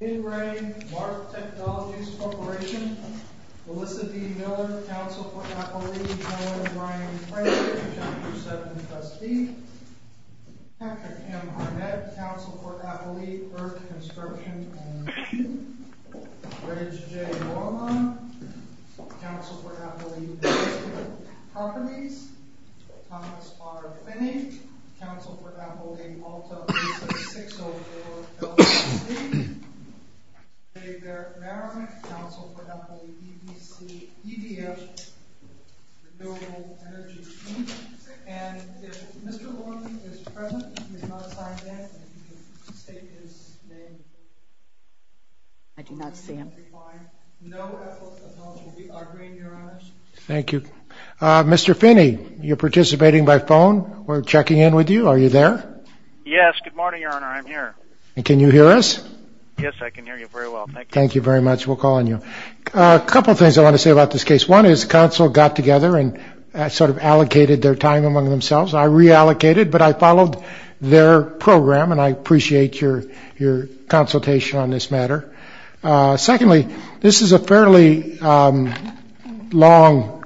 In re Mark Technologies Corp. Melissa D. Miller, Council for Appalachia. Noah Brian Frazier, Chapter 7 Trustee. Patrick M. Arnett, Council for Appalachia. Bert Constructions, M2. Reg J. Norman, Council for Appalachia. David Papadies, Thomas R. Finney, Council for Appalachia. Jody Malta, Council for Appalachia. David Barrick, Council for Appalachia. E.B.H. The Germans Energy Team, and if Mr. Lorenzo is present, he is not assigned then, and if he could state his name, so we can find no Appalachia. We agree in your honor. Thank you. Mr. Finney, you're participating by phone? We're checking in with you. Are you there? Yes. Good morning, your honor. I'm here. And can you hear us? Yes, I can hear you very well. Thank you. Thank you very much. We'll call on you. A couple things I want to say about this case. One is the council got together and sort of allocated their time among themselves. I reallocated, but I followed their program, and I appreciate your consultation on this matter. Secondly, this is a fairly long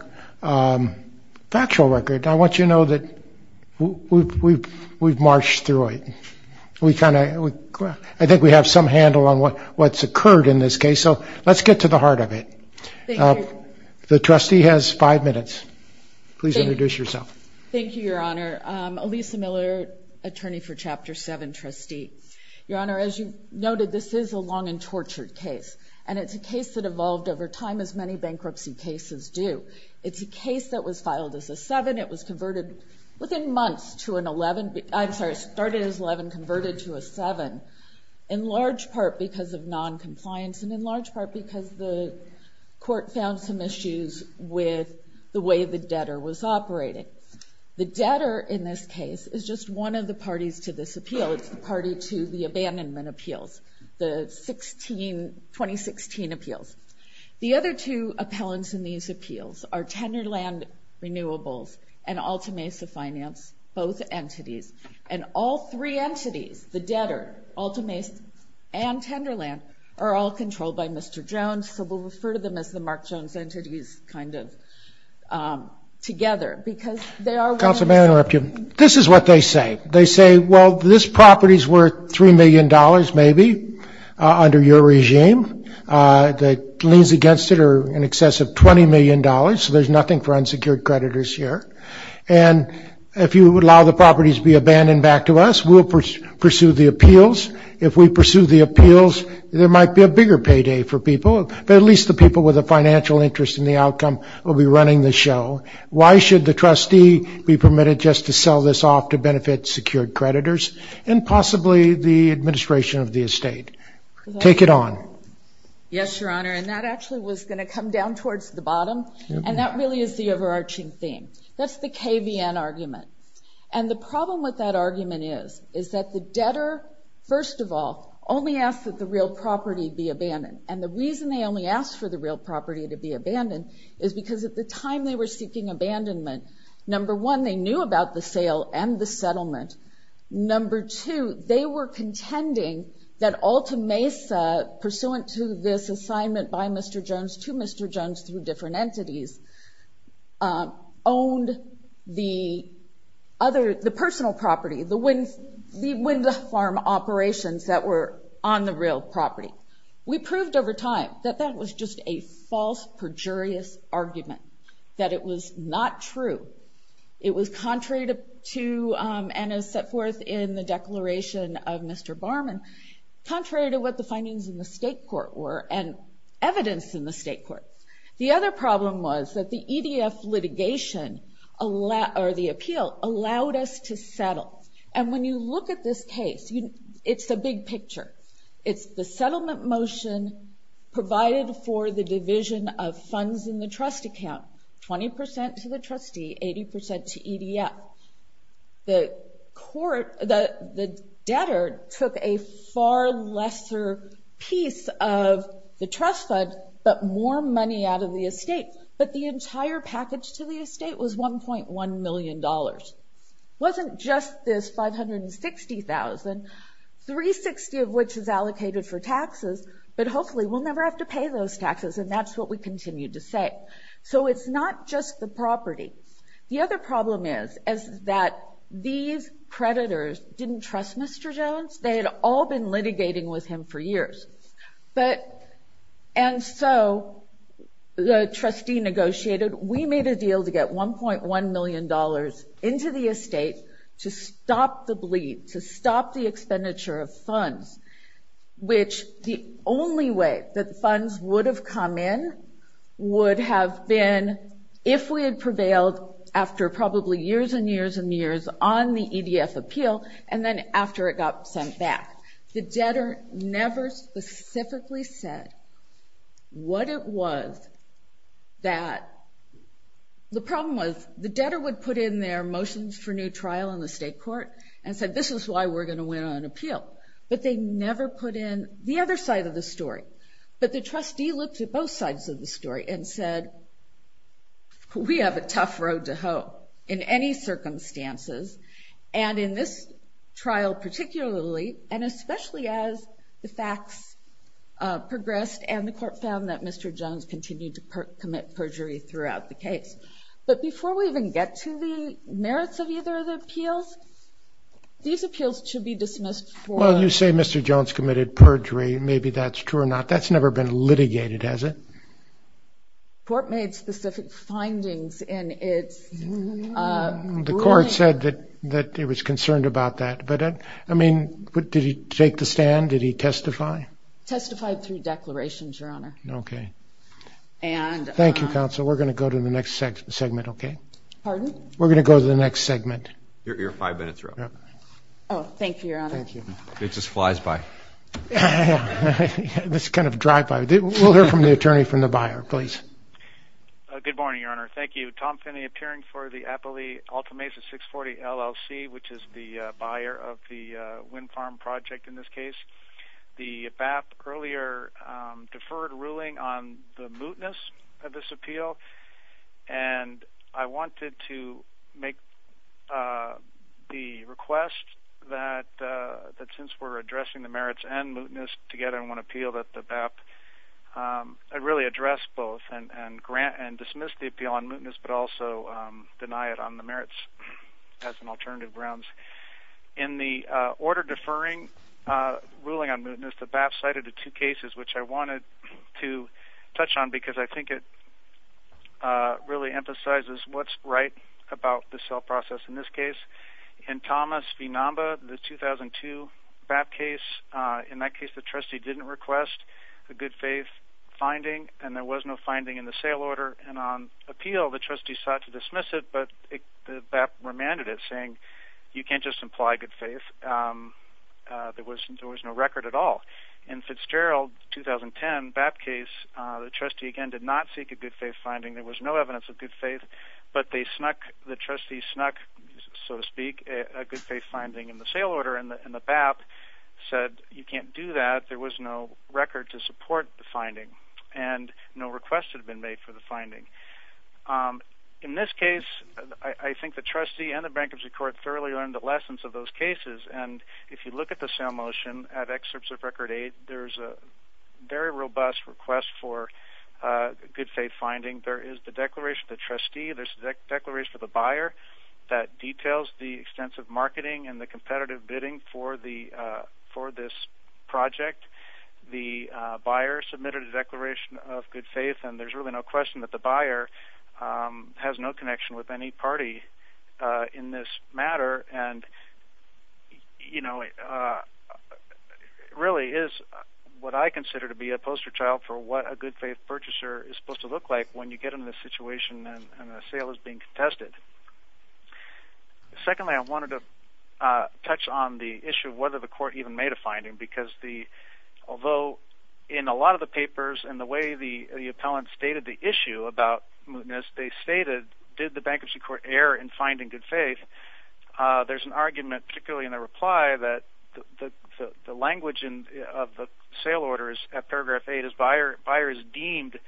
factual record. I want you to know that we've marched through it. I think we have some handle on what's occurred in this case, so let's get to the heart of it. The trustee has five minutes. Please introduce yourself. Thank you, your honor. I'm Elisa Miller, attorney for Chapter 7 trustee. Your honor, as you noted, this is a long and tortured case, and it's a case that evolved over time as many bankruptcy cases do. It's a case that was filed as a seven. It was converted within months to an 11. I'm sorry, it started as 11, converted to a seven, in large part because of noncompliance and in large part because the court found some issues with the way the debtor was operating. The debtor in this case is just one of the parties to this appeal. It's the party to the abandonment appeals, the 2016 appeals. The other two appellants in these appeals are Tenderland Renewables and Altamesa Finance, both entities. And all three entities, the debtor, Altamesa, and Tenderland, are all controlled by Mr. Jones, so we'll refer to them as the Mark Jones entities kind of together because they are one of the- Counsel, may I interrupt you? This is what they say. They say, well, this property is worth $3 million maybe under your regime. The liens against it are in excess of $20 million, so there's nothing for unsecured creditors here. And if you would allow the properties to be abandoned back to us, we'll pursue the appeals. If we pursue the appeals, there might be a bigger payday for people, but at least the people with a financial interest in the outcome will be running the show. Why should the trustee be permitted just to sell this off to benefit secured creditors and possibly the administration of the estate? Take it on. Yes, Your Honor, and that actually was going to come down towards the bottom, and that really is the overarching theme. That's the KVN argument. And the problem with that argument is that the debtor, first of all, only asks that the real property be abandoned. And the reason they only ask for the real property to be abandoned is because at the time they were seeking abandonment, number one, they knew about the sale and the settlement. Number two, they were contending that Alta Mesa, pursuant to this assignment by Mr. Jones to Mr. Jones through different entities, owned the personal property, the wind farm operations that were on the real property. We proved over time that that was just a false, perjurious argument, that it was not true. It was contrary to, and as set forth in the declaration of Mr. Barman, contrary to what the findings in the state court were and evidence in the state court. The other problem was that the EDF litigation or the appeal allowed us to settle. And when you look at this case, it's a big picture. It's the settlement motion provided for the division of funds in the trust account, 20% to the trustee, 80% to EDF. The debtor took a far lesser piece of the trust fund, but more money out of the estate. But the entire package to the estate was $1.1 million. It wasn't just this $560,000, 360 of which is allocated for taxes, but hopefully we'll never have to pay those taxes, and that's what we continued to say. So it's not just the property. The other problem is that these creditors didn't trust Mr. Jones. They had all been litigating with him for years. And so the trustee negotiated. We made a deal to get $1.1 million into the estate to stop the bleed, to stop the expenditure of funds, which the only way that funds would have come in would have been if we had prevailed after probably years and years and years on the EDF appeal and then after it got sent back. The debtor never specifically said what it was that the problem was. The debtor would put in their motions for new trial in the state court and said this is why we're going to win on appeal. But they never put in the other side of the story. But the trustee looked at both sides of the story and said, we have a tough road to hoe in any circumstances, and in this trial particularly and especially as the facts progressed and the court found that Mr. Jones continued to commit perjury throughout the case. But before we even get to the merits of either of the appeals, these appeals should be dismissed for- Well, you say Mr. Jones committed perjury. Maybe that's true or not. That's never been litigated, has it? The court made specific findings in its ruling. The court said that it was concerned about that. But, I mean, did he take the stand? Did he testify? Testified through declarations, Your Honor. Okay. Thank you, counsel. We're going to go to the next segment, okay? Pardon? We're going to go to the next segment. Your five-minute throw. Oh, thank you, Your Honor. Thank you. It just flies by. It's kind of drive-by. We'll hear from the attorney from the buyer, please. Good morning, Your Honor. Thank you. Tom Finney, appearing for the Appalachian Altamesa 640 LLC, which is the buyer of the wind farm project in this case. The BAP earlier deferred ruling on the mootness of this appeal, and I wanted to make the request that since we're addressing the merits and mootness together in one appeal, that the BAP really address both and dismiss the appeal on mootness, but also deny it on the merits as an alternative grounds. In the order deferring ruling on mootness, the BAP cited the two cases, which I wanted to touch on because I think it really emphasizes what's right about the sale process in this case. In Thomas v. Namba, the 2002 BAP case, in that case the trustee didn't request a good faith finding, and there was no finding in the sale order, and on appeal the trustee sought to dismiss it, but the BAP remanded it saying you can't just imply good faith. There was no record at all. In Fitzgerald 2010 BAP case, the trustee again did not seek a good faith finding. There was no evidence of good faith, but the trustee snuck, so to speak, a good faith finding in the sale order, and the BAP said you can't do that. There was no record to support the finding, and no request had been made for the finding. In this case, I think the trustee and the bankruptcy court thoroughly learned the lessons of those cases, and if you look at the sale motion at Excerpts of Record 8, there's a very robust request for good faith finding. There is the declaration of the trustee. There's a declaration of the buyer that details the extensive marketing and the competitive bidding for this project. The buyer submitted a declaration of good faith, and there's really no question that the buyer has no connection with any party in this matter, and it really is what I consider to be a poster child for what a good faith purchaser is supposed to look like when you get in this situation and a sale is being contested. Secondly, I wanted to touch on the issue of whether the court even made a finding, because although in a lot of the papers and the way the appellant stated the issue about mootness, as they stated, did the bankruptcy court err in finding good faith, there's an argument, particularly in the reply, that the language of the sale orders at paragraph 8 is buyer is deemed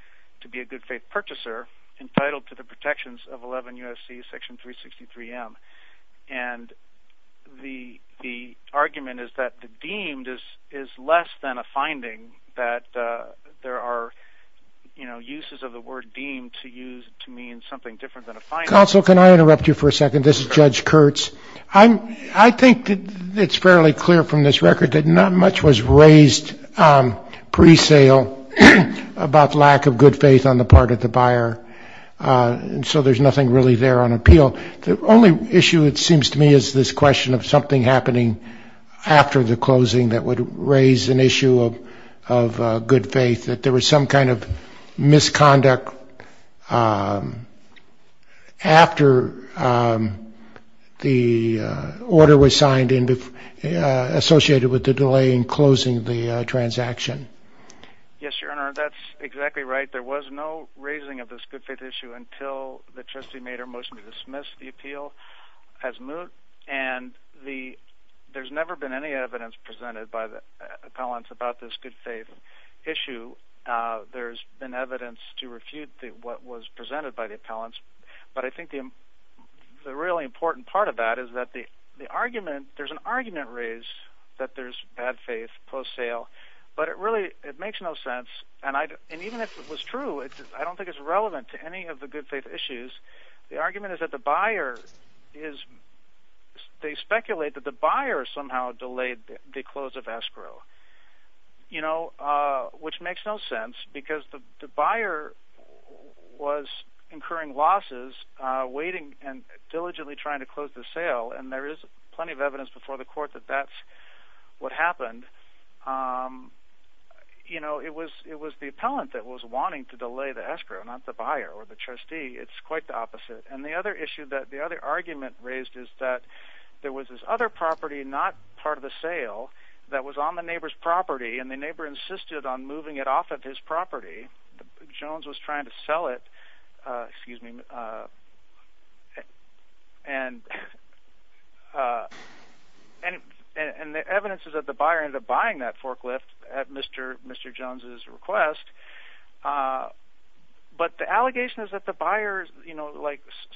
to be a good faith purchaser, entitled to the protections of 11 U.S.C. section 363M, and the argument is that the deemed is less than a finding, that there are uses of the word deemed to mean something different than a finding. Counsel, can I interrupt you for a second? This is Judge Kurtz. I think it's fairly clear from this record that not much was raised pre-sale about lack of good faith on the part of the buyer, and so there's nothing really there on appeal. The only issue, it seems to me, is this question of something happening after the closing that would raise an issue of good faith, that there was some kind of misconduct after the order was signed associated with the delay in closing the transaction. Yes, Your Honor, that's exactly right. There was no raising of this good faith issue until the trustee made her motion to dismiss the appeal as moot, and there's never been any evidence presented by the appellants about this good faith issue. There's been evidence to refute what was presented by the appellants, but I think the really important part of that is that the argument, there's an argument raised that there's bad faith post-sale, but it really makes no sense, and even if it was true, I don't think it's relevant to any of the good faith issues. The argument is that the buyer is, they speculate that the buyer somehow delayed the close of escrow, which makes no sense because the buyer was incurring losses, waiting and diligently trying to close the sale, and there is plenty of evidence before the court that that's what happened. It was the appellant that was wanting to delay the escrow, not the buyer or the trustee. It's quite the opposite, and the other issue, the other argument raised is that there was this other property, not part of the sale, that was on the neighbor's property, and the neighbor insisted on moving it off of his property. Jones was trying to sell it, and the evidence is that the buyer ended up buying that forklift at Mr. Jones' request, but the allegation is that the buyer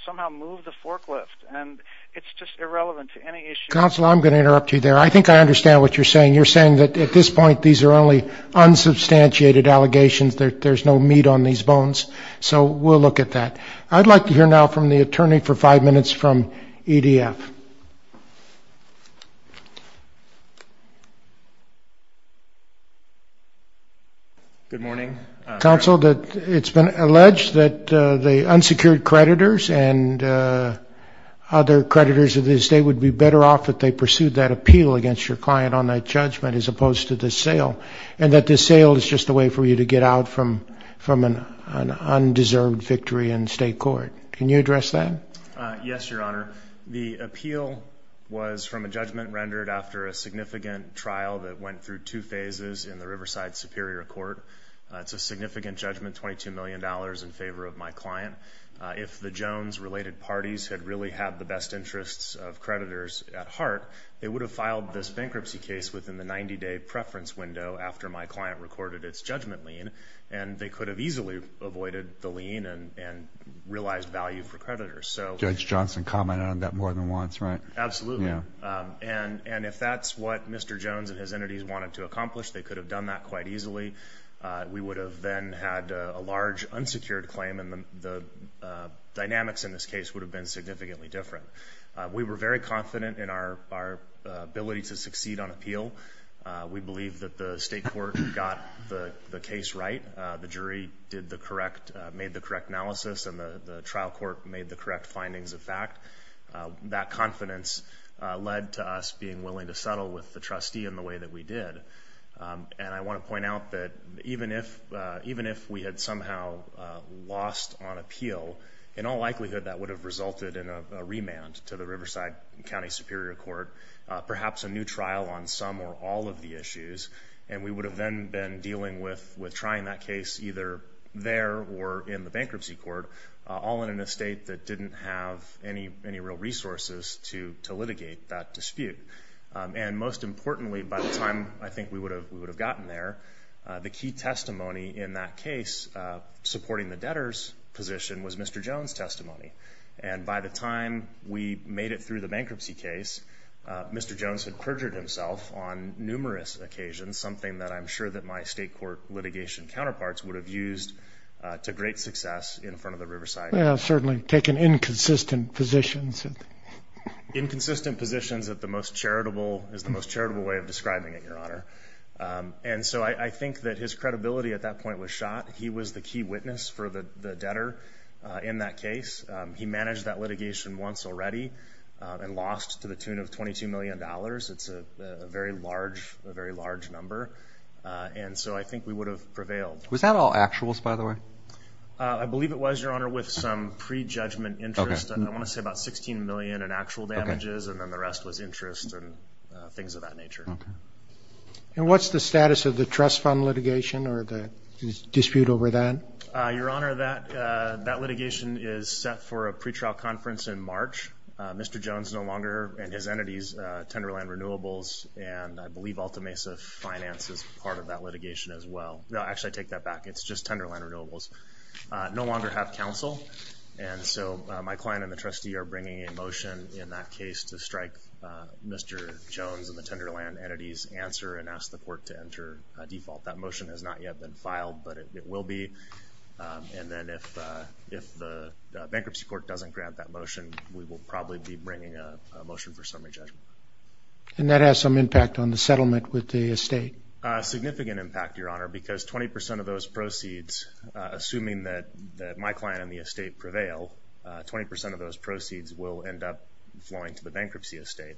somehow moved the forklift, and it's just irrelevant to any issue. Counsel, I'm going to interrupt you there. I think I understand what you're saying. You're saying that at this point, these are only unsubstantiated allegations. There's no meat on these bones, so we'll look at that. I'd like to hear now from the attorney for five minutes from EDF. Thank you. Good morning. Counsel, it's been alleged that the unsecured creditors and other creditors of the estate would be better off if they pursued that appeal against your client on that judgment as opposed to the sale, and that the sale is just a way for you to get out from an undeserved victory in state court. Can you address that? Yes, Your Honor. The appeal was from a judgment rendered after a significant trial that went through two phases in the Riverside Superior Court. It's a significant judgment, $22 million in favor of my client. If the Jones-related parties had really had the best interests of creditors at heart, they would have filed this bankruptcy case within the 90-day preference window after my client recorded its judgment lien, and they could have easily avoided the lien and realized value for creditors. Judge Johnson commented on that more than once, right? Absolutely. And if that's what Mr. Jones and his entities wanted to accomplish, they could have done that quite easily. We would have then had a large unsecured claim, and the dynamics in this case would have been significantly different. We were very confident in our ability to succeed on appeal. We believe that the state court got the case right. The jury made the correct analysis, and the trial court made the correct findings of fact. That confidence led to us being willing to settle with the trustee in the way that we did. And I want to point out that even if we had somehow lost on appeal, in all likelihood that would have resulted in a remand to the Riverside County Superior Court, and we would have then been dealing with trying that case either there or in the bankruptcy court, all in an estate that didn't have any real resources to litigate that dispute. And most importantly, by the time I think we would have gotten there, the key testimony in that case supporting the debtor's position was Mr. Jones' testimony. And by the time we made it through the bankruptcy case, Mr. Jones had perjured himself on numerous occasions, something that I'm sure that my state court litigation counterparts would have used to great success in front of the Riverside. Well, certainly taken inconsistent positions. Inconsistent positions is the most charitable way of describing it, Your Honor. And so I think that his credibility at that point was shot. He was the key witness for the debtor in that case. He managed that litigation once already and lost to the tune of $22 million. It's a very large number. And so I think we would have prevailed. Was that all actuals, by the way? I believe it was, Your Honor, with some prejudgment interest. I want to say about $16 million in actual damages, and then the rest was interest and things of that nature. And what's the status of the trust fund litigation or the dispute over that? Your Honor, that litigation is set for a pretrial conference in March. Mr. Jones no longer and his entities, Tenderland Renewables, and I believe Alta Mesa Finance is part of that litigation as well. No, actually, I take that back. It's just Tenderland Renewables, no longer have counsel. And so my client and the trustee are bringing a motion in that case to strike Mr. Jones and the Tenderland entities answer and ask the court to enter default. That motion has not yet been filed, but it will be. And then if the bankruptcy court doesn't grant that motion, we will probably be bringing a motion for summary judgment. And that has some impact on the settlement with the estate. Significant impact, Your Honor, because 20 percent of those proceeds, assuming that my client and the estate prevail, 20 percent of those proceeds will end up flowing to the bankruptcy estate.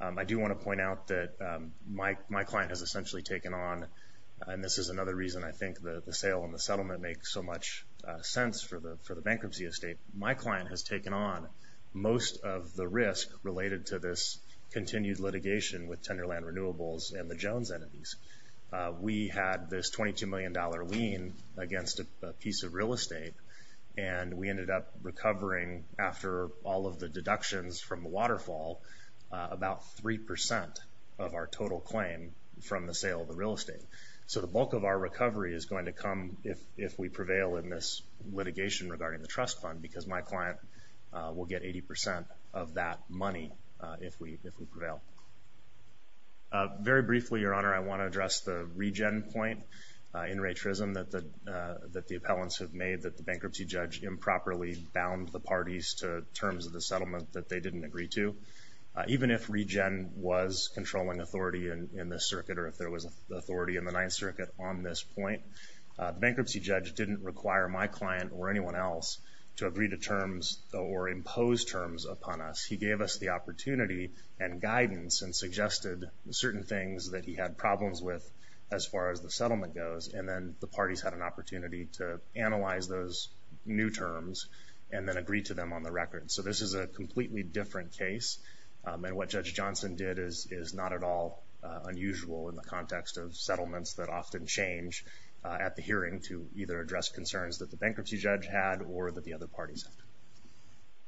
I do want to point out that my client has essentially taken on, and this is another reason I think the sale and the settlement make so much sense for the bankruptcy estate. My client has taken on most of the risk related to this continued litigation with Tenderland Renewables and the Jones entities. We had this $22 million lien against a piece of real estate, and we ended up recovering after all of the deductions from the waterfall about 3 percent of our total claim from the sale of the real estate. So the bulk of our recovery is going to come if we prevail in this litigation regarding the trust fund, because my client will get 80 percent of that money if we prevail. Very briefly, Your Honor, I want to address the regen point in Ray Trism that the appellants have made, that the bankruptcy judge improperly bound the parties to terms of the settlement that they didn't agree to. Even if regen was controlling authority in this circuit or if there was authority in the Ninth Circuit on this point, the bankruptcy judge didn't require my client or anyone else to agree to terms or impose terms upon us. He gave us the opportunity and guidance and suggested certain things that he had problems with as far as the settlement goes, and then the parties had an opportunity to analyze those new terms and then agree to them on the record. So this is a completely different case, and what Judge Johnson did is not at all unusual in the context of settlements that often change at the hearing to either address concerns that the bankruptcy judge had or that the other parties had.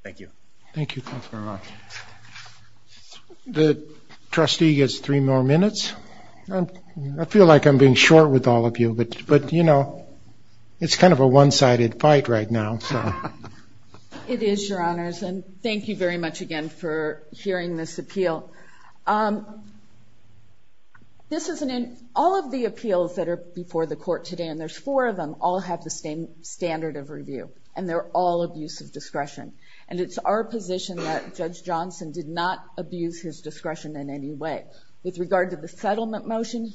Thank you. Thank you. Thanks very much. The trustee gets three more minutes. I feel like I'm being short with all of you, but, you know, it's kind of a one-sided fight right now. It is, Your Honors, and thank you very much again for hearing this appeal. All of the appeals that are before the court today, and there's four of them, all have the same standard of review, and they're all abuse of discretion. And it's our position that Judge Johnson did not abuse his discretion in any way. With regard to the settlement motion,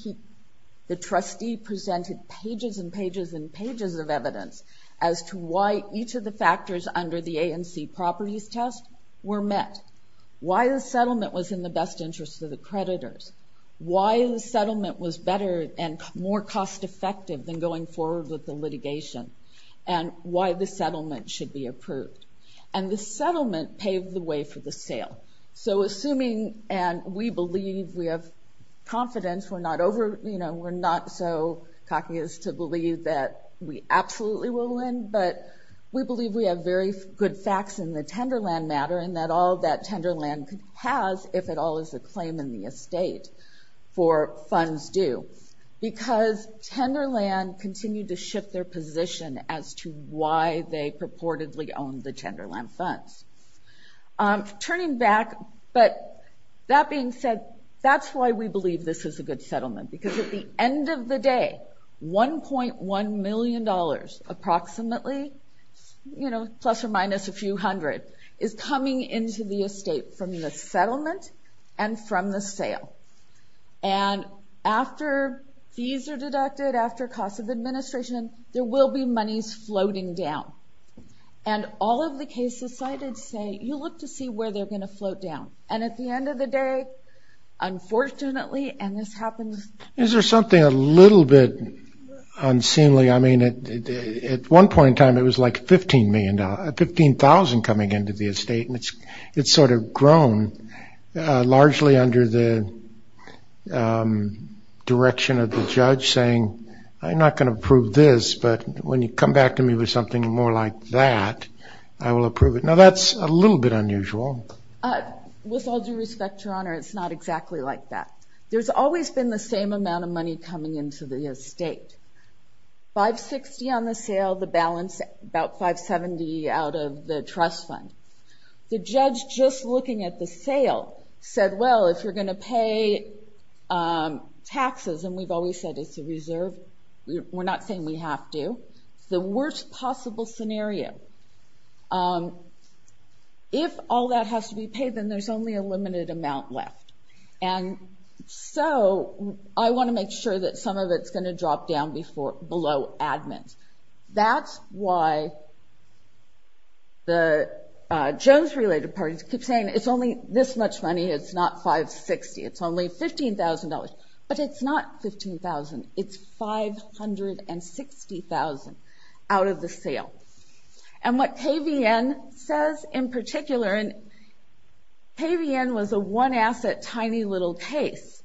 the trustee presented pages and pages and pages of evidence as to why each of the factors under the A&C properties test were met, why the settlement was in the best interest of the creditors, why the settlement was better and more cost-effective than going forward with the litigation, and why the settlement should be approved. And the settlement paved the way for the sale. So assuming, and we believe, we have confidence, we're not over, you know, we're not so cocky as to believe that we absolutely will win, but we believe we have very good facts in the Tenderland matter and that all that Tenderland has, if at all is a claim in the estate for funds due, because Tenderland continued to shift their position as to why they purportedly owned the Tenderland funds. Turning back, but that being said, that's why we believe this is a good settlement, because at the end of the day, $1.1 million, approximately, you know, plus or minus a few hundred, is coming into the estate from the settlement and from the sale. And after fees are deducted, after costs of administration, there will be monies floating down. And all of the cases cited say you look to see where they're going to float down. And at the end of the day, unfortunately, and this happens... Is there something a little bit unseemly? I mean, at one point in time, it was like $15,000 coming into the estate, and it's sort of grown largely under the direction of the judge saying, I'm not going to approve this, but when you come back to me with something more like that, I will approve it. Now, that's a little bit unusual. With all due respect, Your Honor, it's not exactly like that. There's always been the same amount of money coming into the estate. $560,000 on the sale, the balance, about $570,000 out of the trust fund. The judge, just looking at the sale, said, well, if you're going to pay taxes, and we've always said it's a reserve, we're not saying we have to. The worst possible scenario, if all that has to be paid, then there's only a limited amount left. And so I want to make sure that some of it's going to drop down below admins. That's why the Jones-related parties keep saying it's only this much money, it's not $560,000, it's only $15,000. But it's not $15,000, it's $560,000 out of the sale. And what KVN says in particular, and KVN was a one-asset, tiny little case,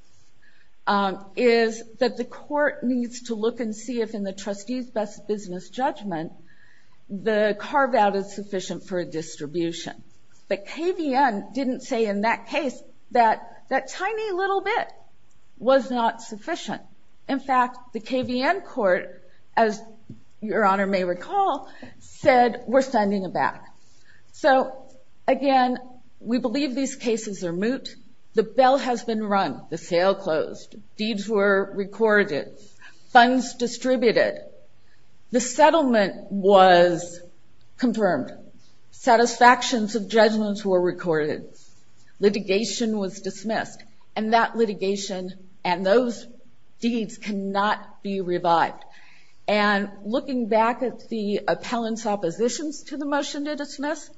is that the court needs to look and see if, in the trustee's best business judgment, the carve-out is sufficient for a distribution. But KVN didn't say in that case that that tiny little bit was not sufficient. In fact, the KVN court, as Your Honor may recall, said, we're sending it back. So, again, we believe these cases are moot. The bill has been run, the sale closed, deeds were recorded, funds distributed. The settlement was confirmed. Satisfactions of judgments were recorded. Litigation was dismissed. And that litigation and those deeds cannot be revived. And looking back at the appellant's oppositions to the motion to dismiss,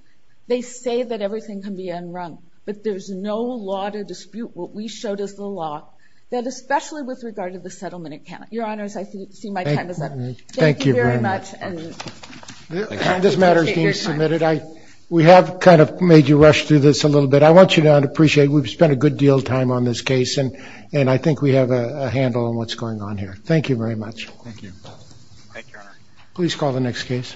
they say that everything can be unwrung. But there's no law to dispute what we showed as the law, that especially with regard to the settlement account. Your Honors, I see my time is up. Thank you very much. This matter is being submitted. We have kind of made you rush through this a little bit. I want you to appreciate we've spent a good deal of time on this case, and I think we have a handle on what's going on here. Thank you very much. Thank you. Thank you, Your Honor. Please call the next case.